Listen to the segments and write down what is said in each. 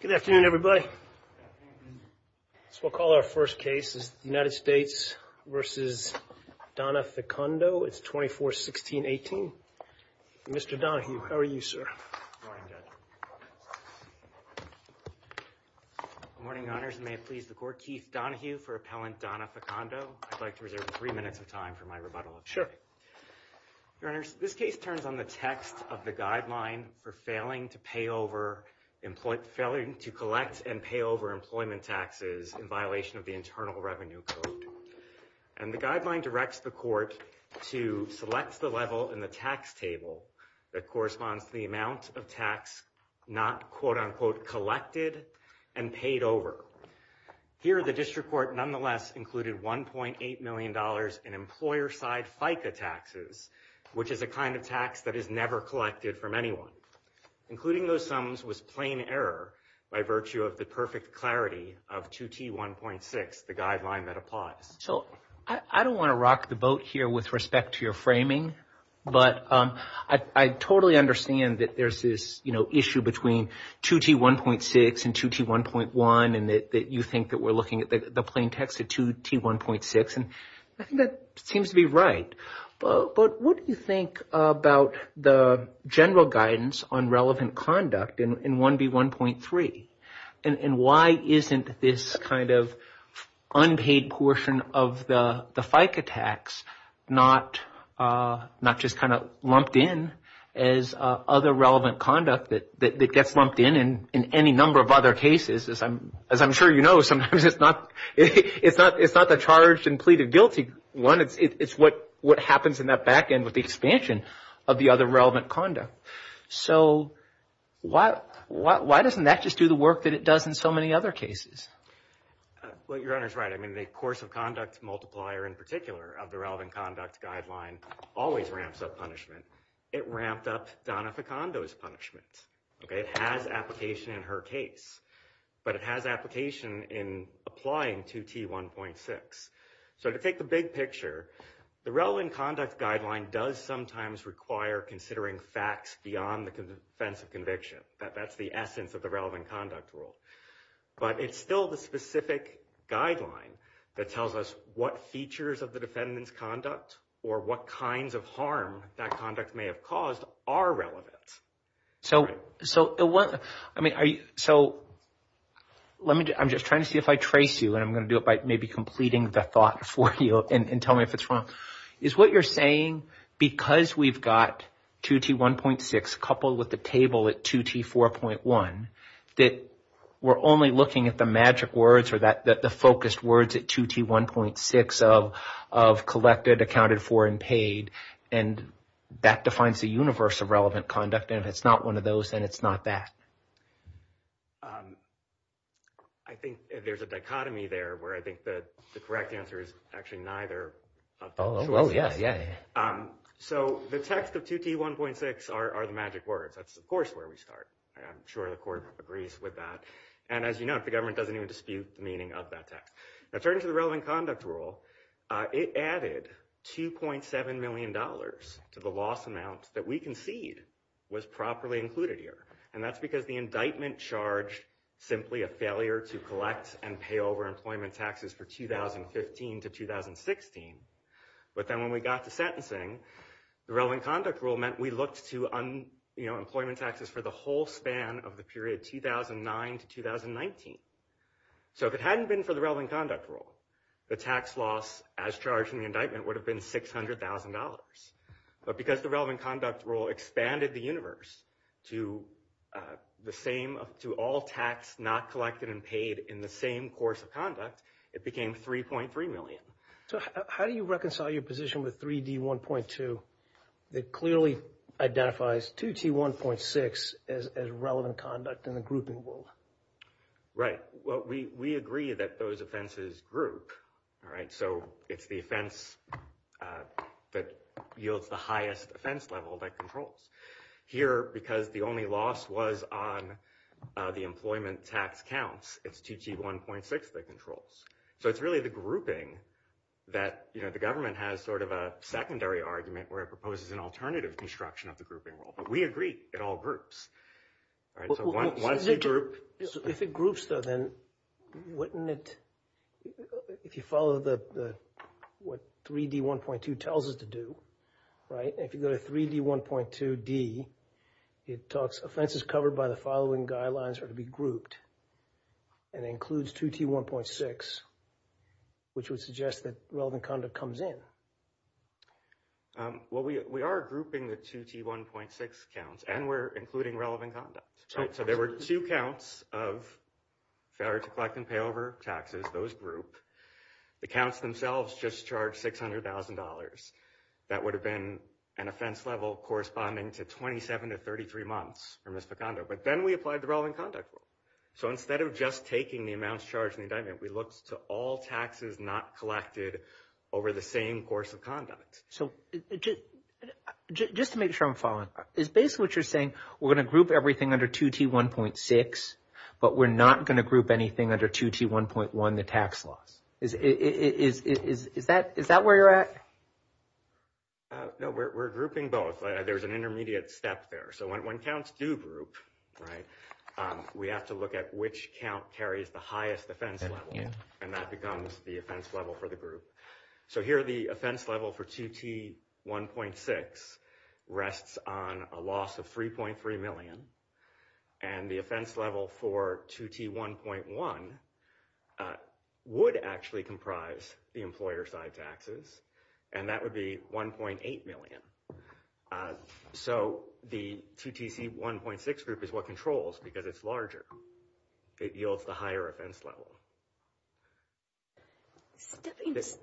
Good afternoon everybody. So we'll call our first case is the United States v. Donna Fecondo. It's 241618. Mr. Donahue, how are you, sir? Good morning, Your Honors. May it please the Court, Keith Donahue for Appellant Donna Fecondo. I'd like to reserve three minutes of time for my rebuttal. Sure. Your Honors, this case turns on the text of the guideline for failing to pay over failing to collect and pay over employment taxes in violation of the Internal Revenue Code. And the guideline directs the Court to select the level in the tax table that corresponds to the amount of tax not, quote-unquote, collected and paid over. Here, the District Court nonetheless included $1.8 million in employer-side FICA taxes, which is a kind of tax that is never error by virtue of the perfect clarity of 2T1.6, the guideline that applies. So I don't want to rock the boat here with respect to your framing, but I totally understand that there's this, you know, issue between 2T1.6 and 2T1.1 and that you think that we're looking at the plain text of 2T1.6. And I think that seems to be right. But what do you think about the general guidance on relevant conduct in 1B1.3? And why isn't this kind of unpaid portion of the FICA tax not just kind of lumped in as other relevant conduct that gets lumped in in any number of other cases? As I'm sure you know, sometimes it's not the charged and pleaded guilty one. It's what happens in that back end with the expansion of the other relevant conduct. So why doesn't that just do the work that it does in so many other cases? Well, your Honor's right. I mean, the course of conduct multiplier in particular of the relevant conduct guideline always ramps up punishment. It ramped up punishment. It has application in her case, but it has application in applying 2T1.6. So to take the big picture, the relevant conduct guideline does sometimes require considering facts beyond the defense of conviction. That's the essence of the relevant conduct rule. But it's still the specific guideline that tells us what features of the defendant's conduct or what kinds of harm that conduct may have caused are relevant. So I'm just trying to see if I trace you and I'm going to do it by maybe completing the thought for you and tell me if it's wrong. Is what you're saying because we've got 2T1.6 coupled with the table at 2T4.1 that we're only looking at the magic words or the focused words at 2T1.6 of collected, accounted for, and paid. And that defines the universe of relevant conduct. And if it's not one of those, then it's not that. I think there's a dichotomy there where I think that the correct answer is actually neither. Oh, yeah. Yeah. So the text of 2T1.6 are the magic words. That's, of course, where we start. I'm sure the Court agrees with that. And as you know, the government doesn't even dispute the meaning of that text. Now, turning to the relevant conduct rule, it added $2.7 million to the loss amount that we concede was properly included here. And that's because the indictment charged simply a failure to collect and pay over employment taxes for 2015 to 2016. But then when we got to sentencing, the relevant conduct rule meant we looked to employment taxes for the whole span of the period 2009 to 2019. So if it hadn't been for the relevant conduct rule, the tax loss as charged in the indictment would have been $600,000. But because the relevant conduct rule expanded the universe to all tax not collected and paid in the same course of conduct, it became $3.3 million. So how do you reconcile your position with 3D1.2 that clearly identifies 2T1.6 as relevant conduct in the grouping world? Right. Well, we agree that those offenses group. So it's the offense that yields the highest offense level that controls. Here, because the only loss was on the employment tax counts, it's 2T1.6 that controls. So it's really the grouping that the government has sort of a secondary argument where it proposes an alternative construction of the grouping rule. We agree it all groups. So once you group... If it groups though, then wouldn't it... If you follow what 3D1.2 tells us to do, right? If you go to 3D1.2D, it talks, offenses covered by the following guidelines are to be grouped and includes 2T1.6, which would suggest that relevant conduct comes in. Right. Well, we are grouping the 2T1.6 counts and we're including relevant conduct. So there were two counts of failure to collect and pay over taxes. Those group. The counts themselves just charged $600,000. That would have been an offense level corresponding to 27 to 33 months for misdemeanor. But then we applied the relevant conduct rule. So instead of just taking the counts charged in the indictment, we looked to all taxes not collected over the same course of conduct. So just to make sure I'm following, is basically what you're saying, we're going to group everything under 2T1.6, but we're not going to group anything under 2T1.1, the tax loss. Is that where you're at? No, we're grouping both. There's an intermediate step there. So when counts do group, right, we have to look at which count carries the highest offense level. And that becomes the offense level for the group. So here the offense level for 2T1.6 rests on a loss of $3.3 million. And the offense level for 2T1.1 would actually comprise the employer side taxes. And that would be $1.8 million. So the 2T1.6 group is what controls because it's larger. It yields the higher offense level.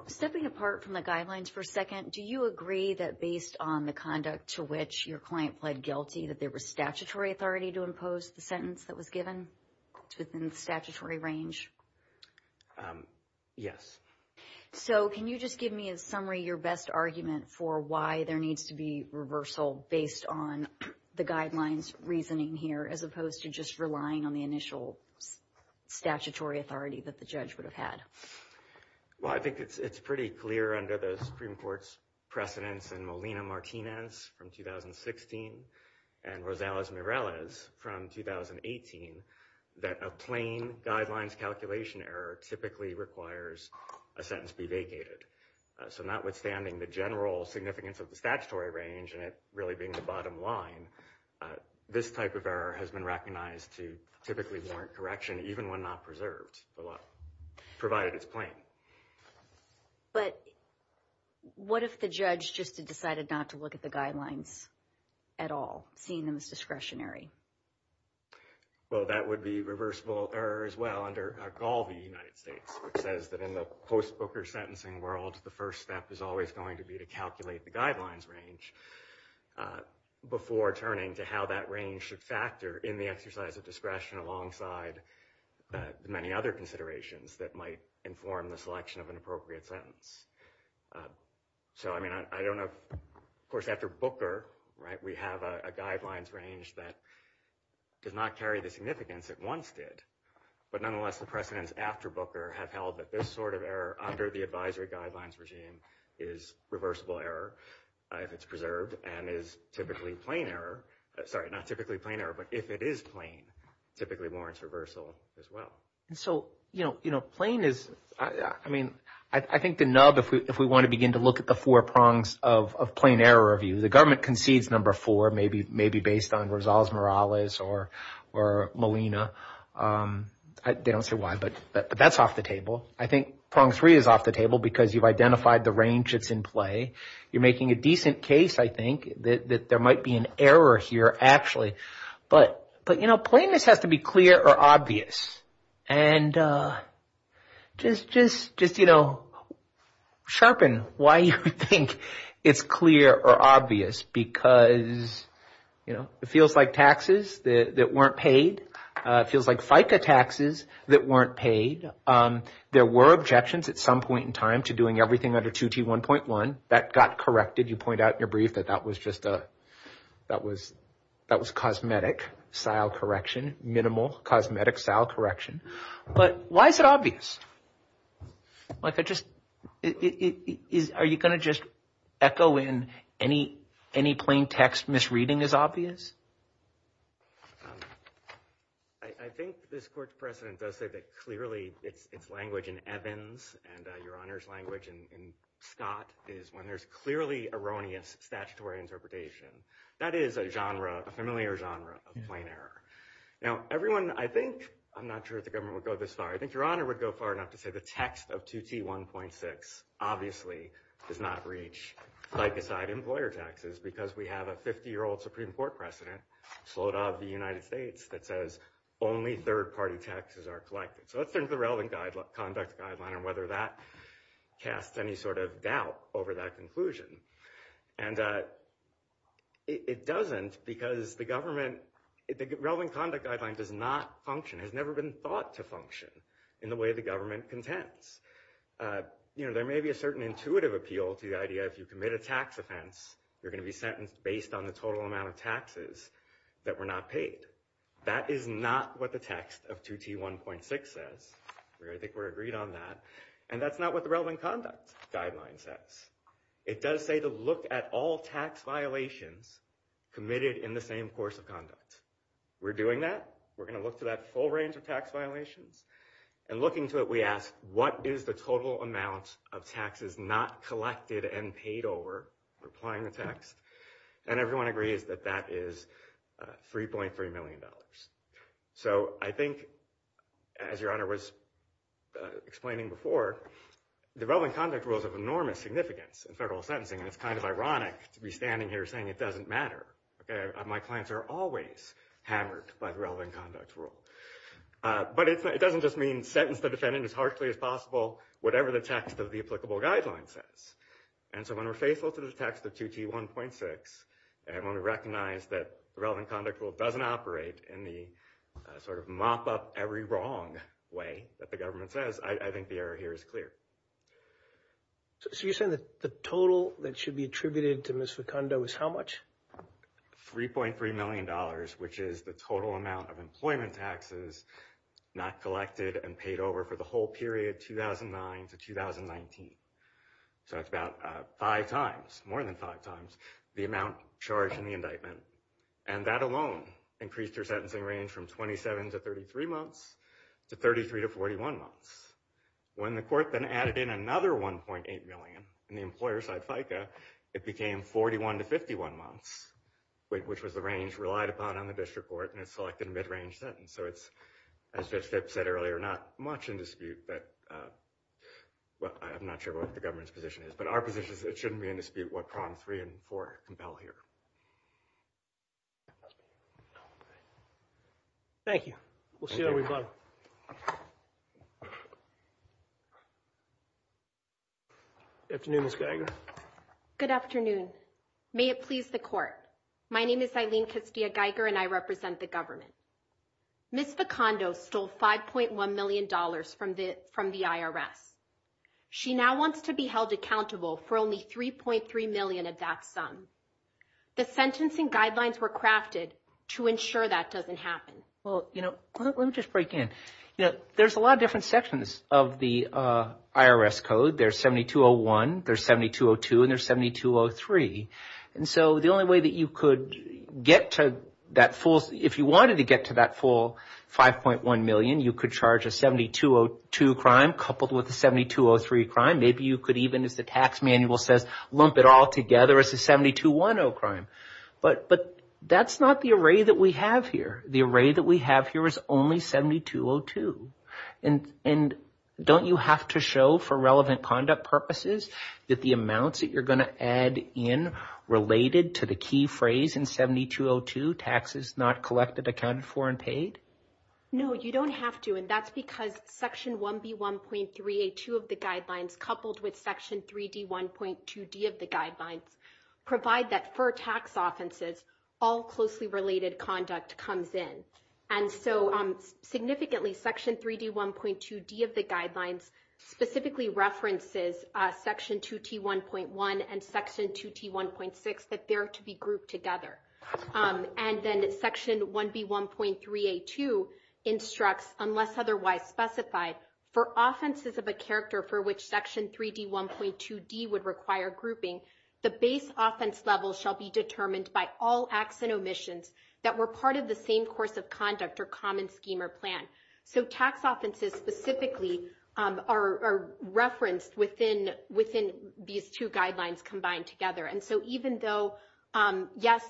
Stepping apart from the guidelines for a second, do you agree that based on the conduct to which your client pled guilty that there was statutory authority to impose the sentence that was given within the statutory range? Yes. So can you just give me a summary, your best argument for why there needs to be reversal based on the guidelines reasoning here, as opposed to just relying on the initial statutory authority that the judge would have had? Well, I think it's pretty clear under the Supreme Court's precedence in Molina-Martinez from 2016 and Rosales-Mireles from 2018 that a plain guidelines calculation error typically requires a sentence be vacated. So notwithstanding the general significance of the statutory range and it really being the bottom line, this type of error has been recognized to typically warrant correction even when not preserved, provided it's plain. But what if the judge just decided not to look at the guidelines at all, seeing them as discretionary? Well, that would be reversible error as well under Galvey United States, which says that in the post-Booker sentencing world, the first step is always going to be to calculate the guidelines range before turning to how that range should factor in the exercise of discretion alongside many other considerations that might inform the selection of an appropriate sentence. So I mean, I don't know, of course, after Booker, right, we have a guidelines range that does not carry the significance it once did. But nonetheless, the precedence after Booker have held that this sort of error under the advisory guidelines regime is reversible error if it's preserved and is typically plain error. Sorry, not typically plain error, but if it is plain, typically warrants reversal as well. And so, you know, plain is, I mean, I think the nub, if we want to begin to look at the four prongs of plain error review, the government concedes number four, maybe based on Rosales Morales or Molina. They don't say why, but that's off the table. I think prong three is off the table because you've identified the range that's in play. You're making a decent case, I think, that there might be an error here, actually. But, you know, plainness has to be clear or obvious. And just, you know, sharpen why you think it's clear or obvious because, you know, it feels like taxes that weren't paid. It feels like FICA taxes that weren't paid. There were objections at some point in time to doing everything under 2T1.1. That got corrected. You point out in your brief that that was just a, that was cosmetic style correction, minimal cosmetic style correction. But why is it obvious? Like, I just, it is, are you going to just echo in any, any plain text misreading as obvious? I think this court's precedent does say that clearly it's language in Evans and your honor's language in Scott is when there's clearly erroneous statutory interpretation. That is a genre, a familiar genre of plain error. Now everyone, I think, I'm not sure if the government would go this far. I think your honor would go far enough to say the text of 2T1.6 obviously does not reach FICA side employer taxes because we have a 50-year-old Supreme Court precedent slowed out of the United States that says only third-party taxes are collected. So let's turn to the relevant conduct guideline and whether that casts any sort of doubt over that conclusion. And it doesn't because the government, the relevant conduct guideline does not function, has never been thought to function in the way the government contends. You know, there may be a certain intuitive appeal to the idea if you commit a tax offense you're going to be sentenced based on the total amount of taxes that were not paid. That is not what the text of 2T1.6 says. I think we're agreed on that. And that's not what the relevant conduct guideline says. It does say to look at all tax violations committed in the same course of conduct. We're doing that. We're going to look to that full range of tax violations and looking to it we ask what is the total amount of taxes not collected and paid over, replying the text. And everyone agrees that that is 3.3 million dollars. So I think as your honor was explaining before, the relevant conduct rules have enormous significance in federal sentencing and it's kind of ironic to be standing here saying it doesn't matter. My clients are always hammered by the relevant conduct rule. But it doesn't just mean sentence the defendant as harshly as possible, whatever the text of the applicable guideline says. And so when we're faithful to the text of 2T1.6 and when we recognize that the relevant conduct rule doesn't operate in the sort of mop up every wrong way that the government says, I think the error here is clear. So you're saying that the total that should be attributed to Ms. Facundo is how much? 3.3 million dollars, which is the total amount of employment taxes not collected and paid over for the whole period 2009 to 2019. So it's about five times, more than five times the amount charged in the indictment. And that alone increased her sentencing range from 27 to 33 months to 33 to 41 months. When the court then added in another 1.8 million in the employer-side FICA, it became 41 to 51 months, which was the range relied upon on the district court and it's selected a mid-range sentence. So it's, as Judge Phipps said earlier, not much in dispute that, well I'm not sure what the government's position is, but our position is it shouldn't be in dispute what prongs three and four compel here. Thank you. We'll see how we go. Good afternoon, Ms. Geiger. Good afternoon. May it please the court. My name is Eileen Castillo Geiger and I represent the government. Ms. Facundo stole 5.1 million dollars from the IRS. She now wants to be held accountable for only 3.3 million of that sum. The sentencing guidelines were crafted to ensure that doesn't happen. Well, you know, let me just break in. You know, there's a lot of different sections of the IRS code. There's 7201, there's 7202, and there's 7203. And so the only way that you could get to that full, if you wanted to get to that full 5.1 million, you could charge a 7202 crime coupled with a 7203 crime. Maybe you could even, as the tax manual says, lump it all together as 7210 crime. But that's not the array that we have here. The array that we have here is only 7202. And don't you have to show for relevant conduct purposes that the amounts that you're going to add in related to the key phrase in 7202, taxes not collected, accounted for, and paid? No, you don't have to. And that's because section 1B1.3A2 of the guidelines coupled with section 3D1.2D of the guidelines provide that for tax offenses, all closely related conduct comes in. And so significantly, section 3D1.2D of the guidelines specifically references section 2T1.1 and section 2T1.6, that they're to be grouped together. And then section 1B1.3A2 instructs, unless otherwise specified, for offenses of a character for which section 3D1.2D would require grouping, the base offense level shall be determined by all acts and omissions that were part of the same course of conduct or common scheme or plan. So tax offenses specifically are referenced within these two guidelines combined together. And so even though, yes,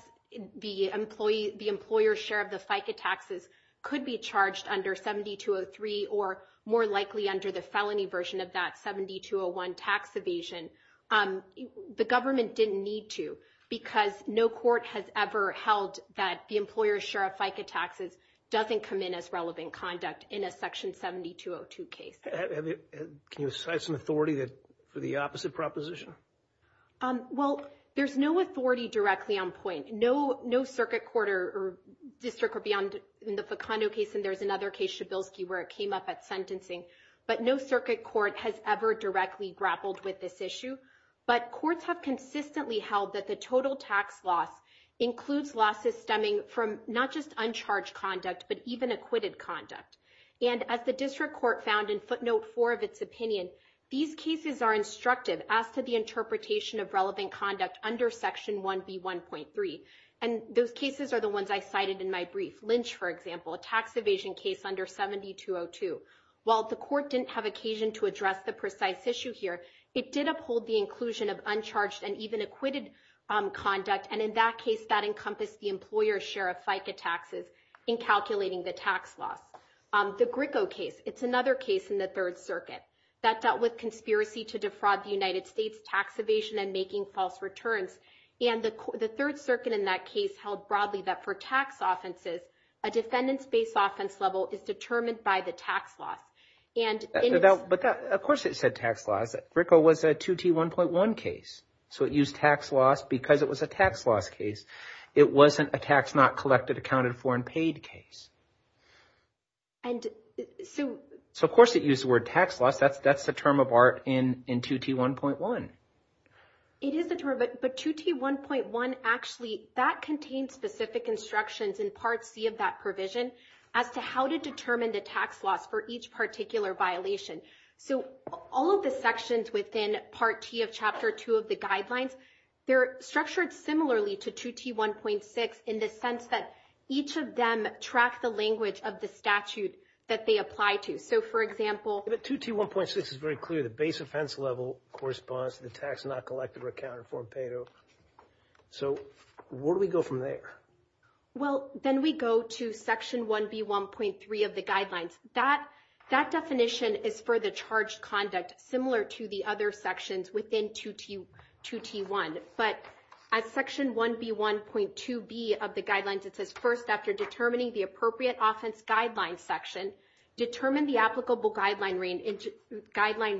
the employer's share of the FICA taxes could be charged under 7203 or more likely under the felony version of that 7201 tax evasion, the government didn't need to because no court has ever held that the employer's share of FICA taxes doesn't come in as relevant conduct in a section 7202 case. Can you cite some authority for the opposite proposition? Well, there's no authority directly on point. No circuit court or district or beyond in the FICANO case, and there's another case, Shabilsky, where it came up at sentencing. But no circuit court has ever directly grappled with this issue. But courts have consistently held that the total tax loss includes losses stemming from not just uncharged conduct, but even acquitted conduct. And as the district court found in footnote four of its opinion, these cases are instructive as to the interpretation of relevant conduct under section 1B1.3. And those cases are the ones I cited in my brief. Lynch, for example, a tax evasion case under 7202. While the court didn't have occasion to address the precise issue here, it did uphold the inclusion of uncharged and even acquitted conduct. And in that case, that encompassed the employer's share of FICA taxes in calculating the tax loss. The Gricko case, it's another case in the Third Circuit that dealt with conspiracy to defraud the United States tax evasion and making false returns. And the Third Circuit in that case held broadly that for tax offenses, a defendant's base offense level is determined by the tax loss. But of course it said tax loss. Gricko was a 2T1.1 case. So it used tax loss because it was a tax loss case. It wasn't a tax not collected, accounted for, and paid case. And so of course it used the word tax loss. That's the term of art in 2T1.1. It is the term of art, but 2T1.1 actually, that contains specific instructions in Part C of that provision as to how to determine the tax loss for each particular violation. So all of the sections within Part T of Chapter 2 of the guidelines, they're structured similarly to 2T1.6 in the sense that each of them track the language of the statute that they apply to. So for example- But 2T1.6 is very clear. The base offense level corresponds to the tax not collected, accounted for, and paid. So where do we go from there? Well, then we go to Section 1B1.3 of the guidelines. That definition is for the charged conduct similar to the other sections within 2T1. But as Section 1B1.2b of the guidelines, it says, first, after determining the appropriate offense guideline section, determine the applicable guideline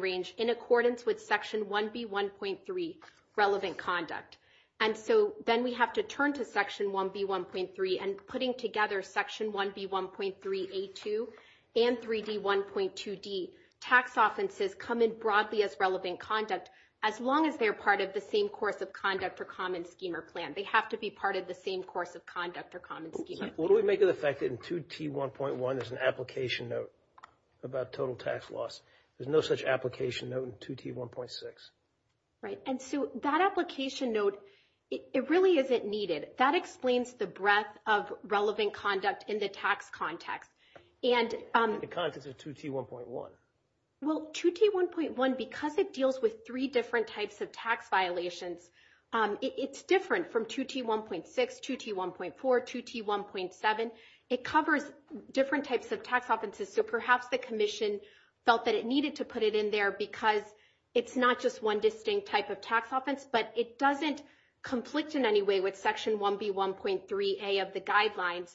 range in accordance with Section 1B1.3 relevant conduct. And so then we have to turn to Section 1B1.3 and putting together Section 1B1.3a2 and 3D1.2d. Tax offenses come in broadly as relevant conduct, as long as they're part of the same course of conduct for Common Schema Plan. They have to be part of the same course of conduct for Common Schema Plan. What do we make of the fact that in 2T1.1, there's an application note about total tax loss? There's no such application note in 2T1.6. Right. And so that application note, it really isn't needed. That explains the breadth of relevant conduct in the tax context. In the context of 2T1.1. Well, 2T1.1, because it deals with three different types of tax violations, it's different from 2T1.6, 2T1.4, 2T1.7. It covers different types of tax offenses. So perhaps the Commission felt that it needed to put it in there because it's not just one distinct type of tax offense, but it doesn't conflict in any way with Section 1B1.3a of the guidelines.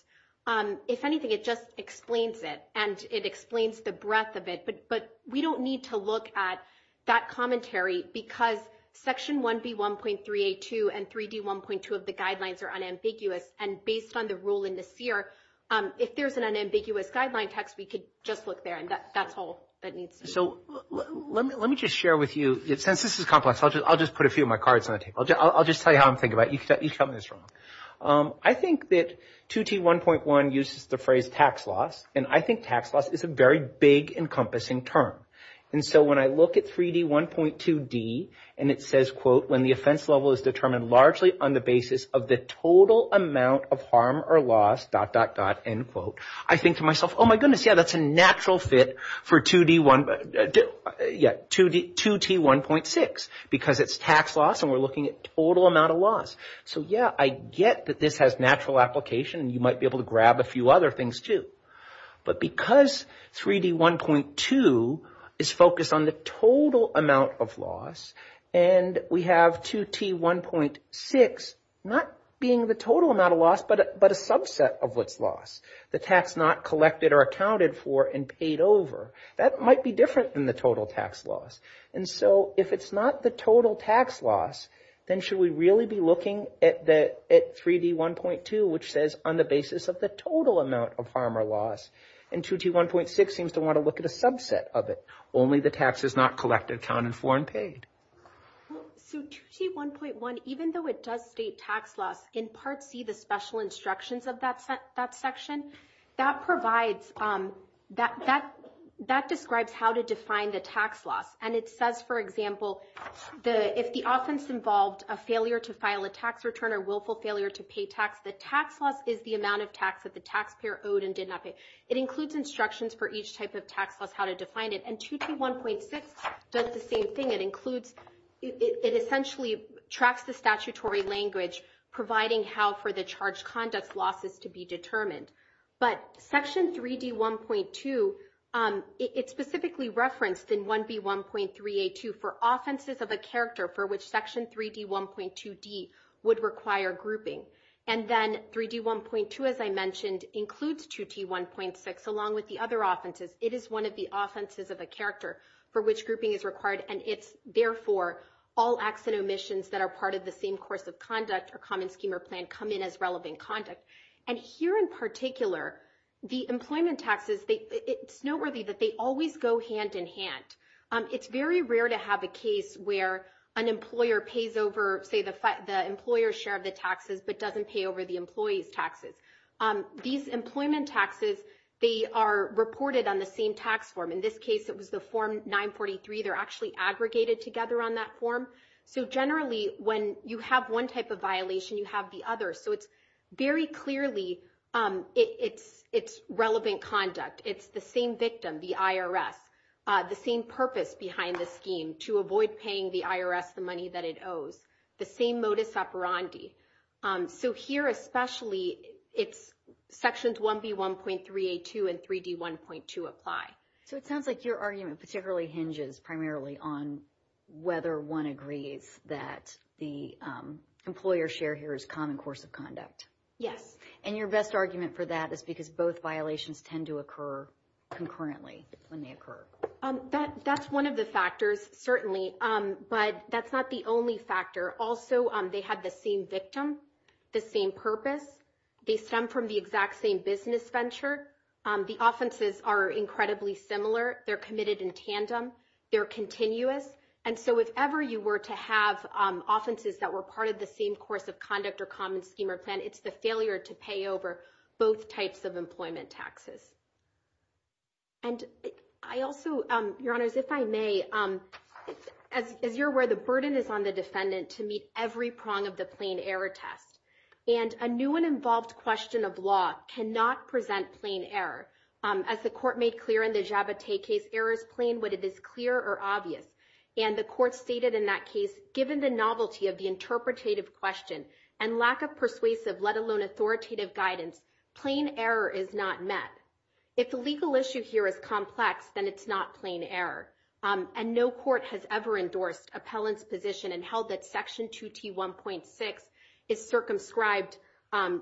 If anything, it just explains it, and it explains the breadth of it. But we don't need to look at that commentary because Section 1B1.3a2 and 3D1.2 of the guidelines are unambiguous. And based on the rule in the CEER, if there's an unambiguous guideline text, we could just look there, and that's all that needs So let me just share with you, since this is complex, I'll just put a few of my cards on the table. I'll just tell you how I'm thinking about it. You can tell me what's wrong. I think that 2T1.1 uses the phrase tax loss, and I think tax loss is a very big encompassing term. And so when I look at 3D1.2D, and it says, quote, when the offense level is determined largely on the basis of the total amount of harm or loss, dot, dot, dot, end quote, I think to myself, oh my goodness, yeah, that's a natural fit for 2D1, yeah, 2T1.6, because it's tax loss and we're looking at total amount of loss. So yeah, I get that this has natural application, and you might be able to grab a few other things too. But because 3D1.2 is focused on the total amount of loss, and we have 2T1.6 not being the total amount of loss, but a subset of what's lost, the tax not collected or accounted for and paid over, that might be different than the total tax loss. And so if it's not the total tax loss, then should we really be looking at 3D1.2, which says on the basis of the total amount of harm or loss, and 2T1.6 seems to want to look at a subset of it, only the tax is not collected, counted for, and paid. So 2T1.1, even though it does state tax loss, in Part C, the special instructions of that section, that provides, that describes how to define the tax loss. And it says, for example, if the offense involved a failure to file a tax return or willful failure to pay tax, the tax loss is the amount of tax that the taxpayer owed and did not pay. It includes instructions for each type of tax loss, how to define it, and 2T1.6 does the same thing. It includes, it essentially tracks the statutory language, providing how for the charge conduct losses to be determined. But Section 3D1.2, it's specifically referenced in 1B1.3A2 for offenses of a character for which Section 3D1.2D would require grouping. And then 3D1.2, as I mentioned, includes 2T1.6 along with the other offenses. It is one of the offenses of a character for which grouping is required, and it's therefore all acts and omissions that are part of the same course of conduct or common scheme or plan come in as relevant conduct. And here in particular, the employment taxes, it's noteworthy that they always go hand in hand. It's very rare to have a case where an employer pays over, say, the employer's share of the taxes but doesn't pay the employee's taxes. These employment taxes, they are reported on the same tax form. In this case, it was the Form 943. They're actually aggregated together on that form. So generally, when you have one type of violation, you have the other. So it's very clearly, it's relevant conduct. It's the same victim, the IRS, the same purpose behind the scheme, to avoid paying the IRS the money that it owes, the same modus operandi. So here especially, it's Sections 1B1.3A2 and 3D1.2 apply. So it sounds like your argument particularly hinges primarily on whether one agrees that the employer's share here is common course of conduct. Yes. And your best argument for that is because both violations tend to occur concurrently when they occur. That's one of the That's not the only factor. Also, they have the same victim, the same purpose. They stem from the exact same business venture. The offenses are incredibly similar. They're committed in tandem. They're continuous. And so if ever you were to have offenses that were part of the same course of conduct or common scheme or plan, it's the failure to pay over both types of employment taxes. And I also, Your Honors, if I may, as you're aware, the burden is on the defendant to meet every prong of the plain error test. And a new and involved question of law cannot present plain error. As the Court made clear in the Jabotay case, error is plain when it is clear or obvious. And the Court stated in that case, given the novelty of the interpretative question and lack of persuasive, let alone authoritative guidance, plain error is not met. If the legal issue here is complex, then it's not plain error. And no Court has ever endorsed appellant's position and held that Section 2T1.6 is circumscribed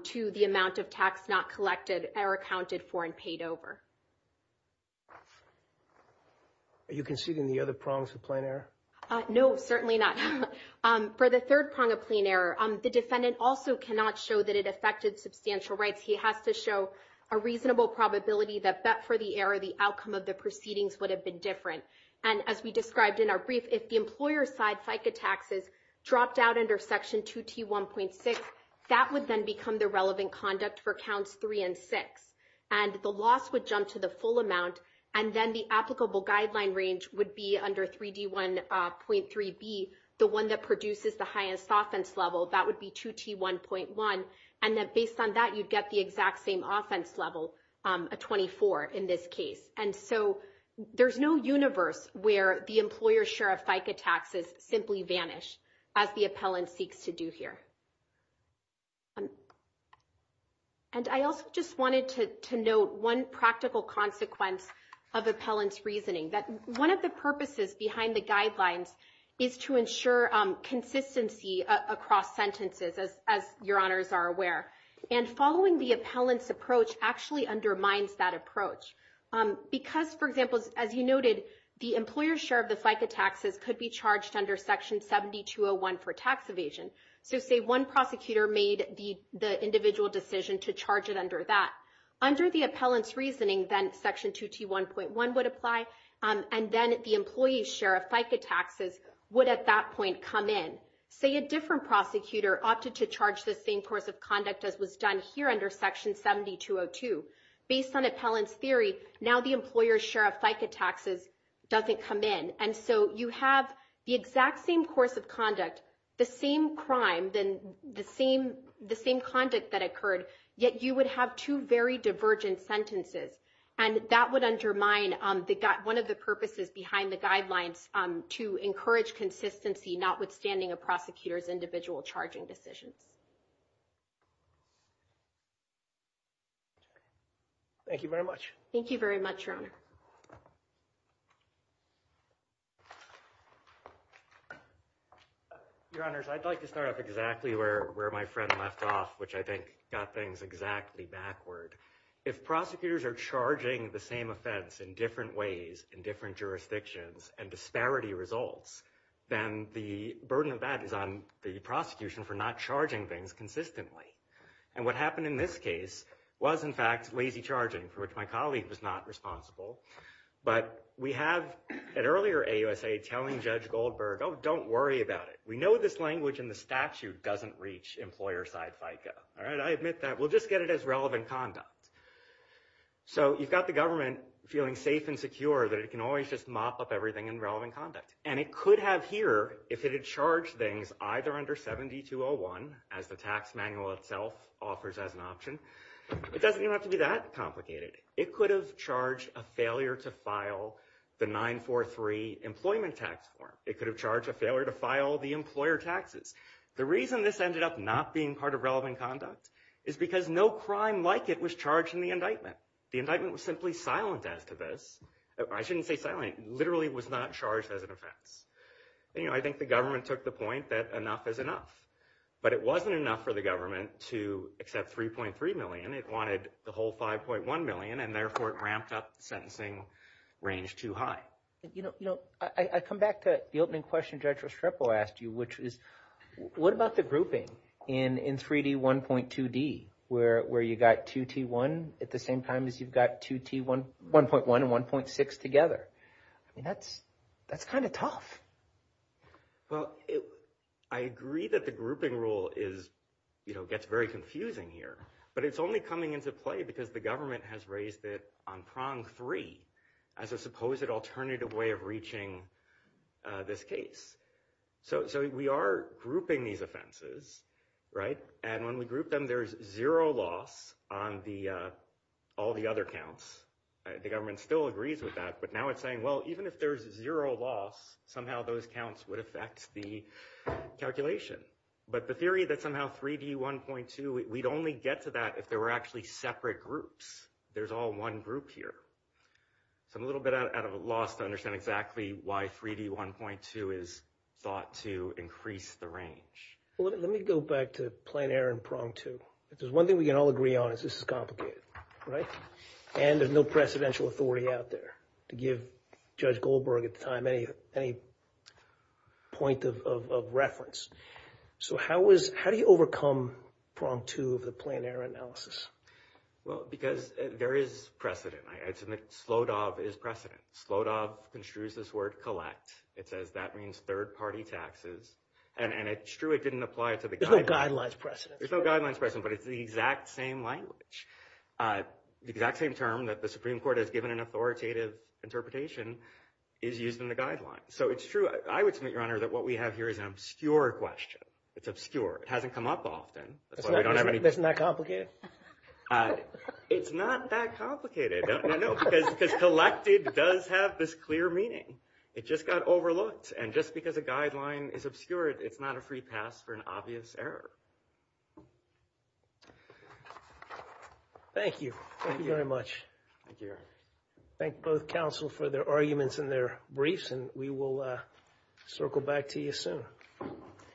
to the amount of tax not collected or accounted for and paid over. Are you conceding the other prongs of plain error? No, certainly not. For the third prong of plain error, the defendant also cannot show that it substantial rights. He has to show a reasonable probability that, bet for the error, the outcome of the proceedings would have been different. And as we described in our brief, if the employer's side FICA taxes dropped out under Section 2T1.6, that would then become the relevant conduct for Counts 3 and 6. And the loss would jump to the full amount. And then the applicable guideline range would be under 3D1.3B, the one that produces the highest offense level. That would be 2T1.1. And then based on that, you'd get the exact same offense level, a 24 in this case. And so there's no universe where the employer's share of FICA taxes simply vanish as the appellant seeks to do here. And I also just wanted to note one practical consequence of appellant's reasoning, that one of the purposes behind the guidelines is to ensure consistency across sentences, as your honors are aware. And following the appellant's approach actually undermines that approach. Because, for example, as you noted, the employer's share of the FICA taxes could be charged under Section 7201 for tax evasion. So say one prosecutor made the individual decision to charge it under that. Under the appellant's reasoning, then Section 2T1.1 would apply. And then the employee's share of FICA taxes would at that point come in. Say a different prosecutor opted to charge the same course of conduct as was done here under Section 7202. Based on appellant's theory, now the employer's share of FICA taxes doesn't come in. And so you have the exact same course of conduct, the same crime, then the same conduct that occurred, yet you would have two very divergent sentences. And that would undermine one of the purposes behind the guidelines to encourage consistency, notwithstanding a prosecutor's individual charging decisions. Thank you very much. Thank you very much, your honor. Your honors, I'd like to start off exactly where my friend left off, which I think got things exactly backward. If prosecutors are charging the same offense in different ways, in different not charging things consistently. And what happened in this case was, in fact, lazy charging, for which my colleague was not responsible. But we have, at earlier AUSA, telling Judge Goldberg, oh, don't worry about it. We know this language in the statute doesn't reach employer-side FICA. All right, I admit that. We'll just get it as relevant conduct. So you've got the government feeling safe and secure that it can always just mop up everything in relevant conduct. And it could have here, if it had charged things either under 7201, as the tax manual itself offers as an option, it doesn't even have to be that complicated. It could have charged a failure to file the 943 employment tax form. It could have charged a failure to file the employer taxes. The reason this ended up not being part of relevant conduct is because no crime like it was charged in the indictment. The indictment was simply silent as to this. I shouldn't say silent, literally was not charged as an offense. I think the government took the point that enough is enough. But it wasn't enough for the government to accept 3.3 million. It wanted the whole 5.1 million. And therefore, it ramped up the sentencing range too high. I come back to the opening question Judge Restrepo asked you, which is, what about the grouping in 3D, 1.2D, where you got 2T1 at the same time as you've got 2T1, 1.1 and 1.6 together? I mean, that's kind of tough. Well, I agree that the grouping rule is, you know, gets very confusing here, but it's only coming into play because the government has raised it on prong three, as a supposed alternative way of reaching this case. So we are grouping these offenses, right? And when we group them, there's zero loss on all the other counts. The government still agrees with that, but now it's saying, well, even if there's zero loss, somehow those counts would affect the calculation. But the theory that somehow 3D, 1.2, we'd only get to that if there were actually separate groups. There's all one group here. So I'm a little bit at a loss to understand exactly why 3D, 1.2 is thought to increase the range. Let me go back to plain error and prong two. If there's one thing we can all agree on is this is complicated, right? And there's no precedential authority out there to give Judge Goldberg at the time any point of reference. So how do you overcome prong two of the plain error analysis? Well, because there is precedent. I'd submit SLODOV is precedent. SLODOV construes this word collect. It says that means third party taxes. And it's true, it didn't apply to the guidelines. There's no guidelines precedent. There's no guidelines precedent, but it's the exact same language. The exact same term that the Supreme Court has given an authoritative interpretation is used in the guidelines. So it's true. I would submit, Your Honor, that what we have here is an obscure question. It's obscure. It hasn't come up often. Isn't that complicated? It's not that complicated. No, because collected does have this clear meaning. It just got overlooked. And just because a guideline is obscure, it's not a free pass for an obvious error. Thank you. Thank you very much. Thank you, Your Honor. Thank both counsel for their arguments and their briefs, and we will circle back to you soon.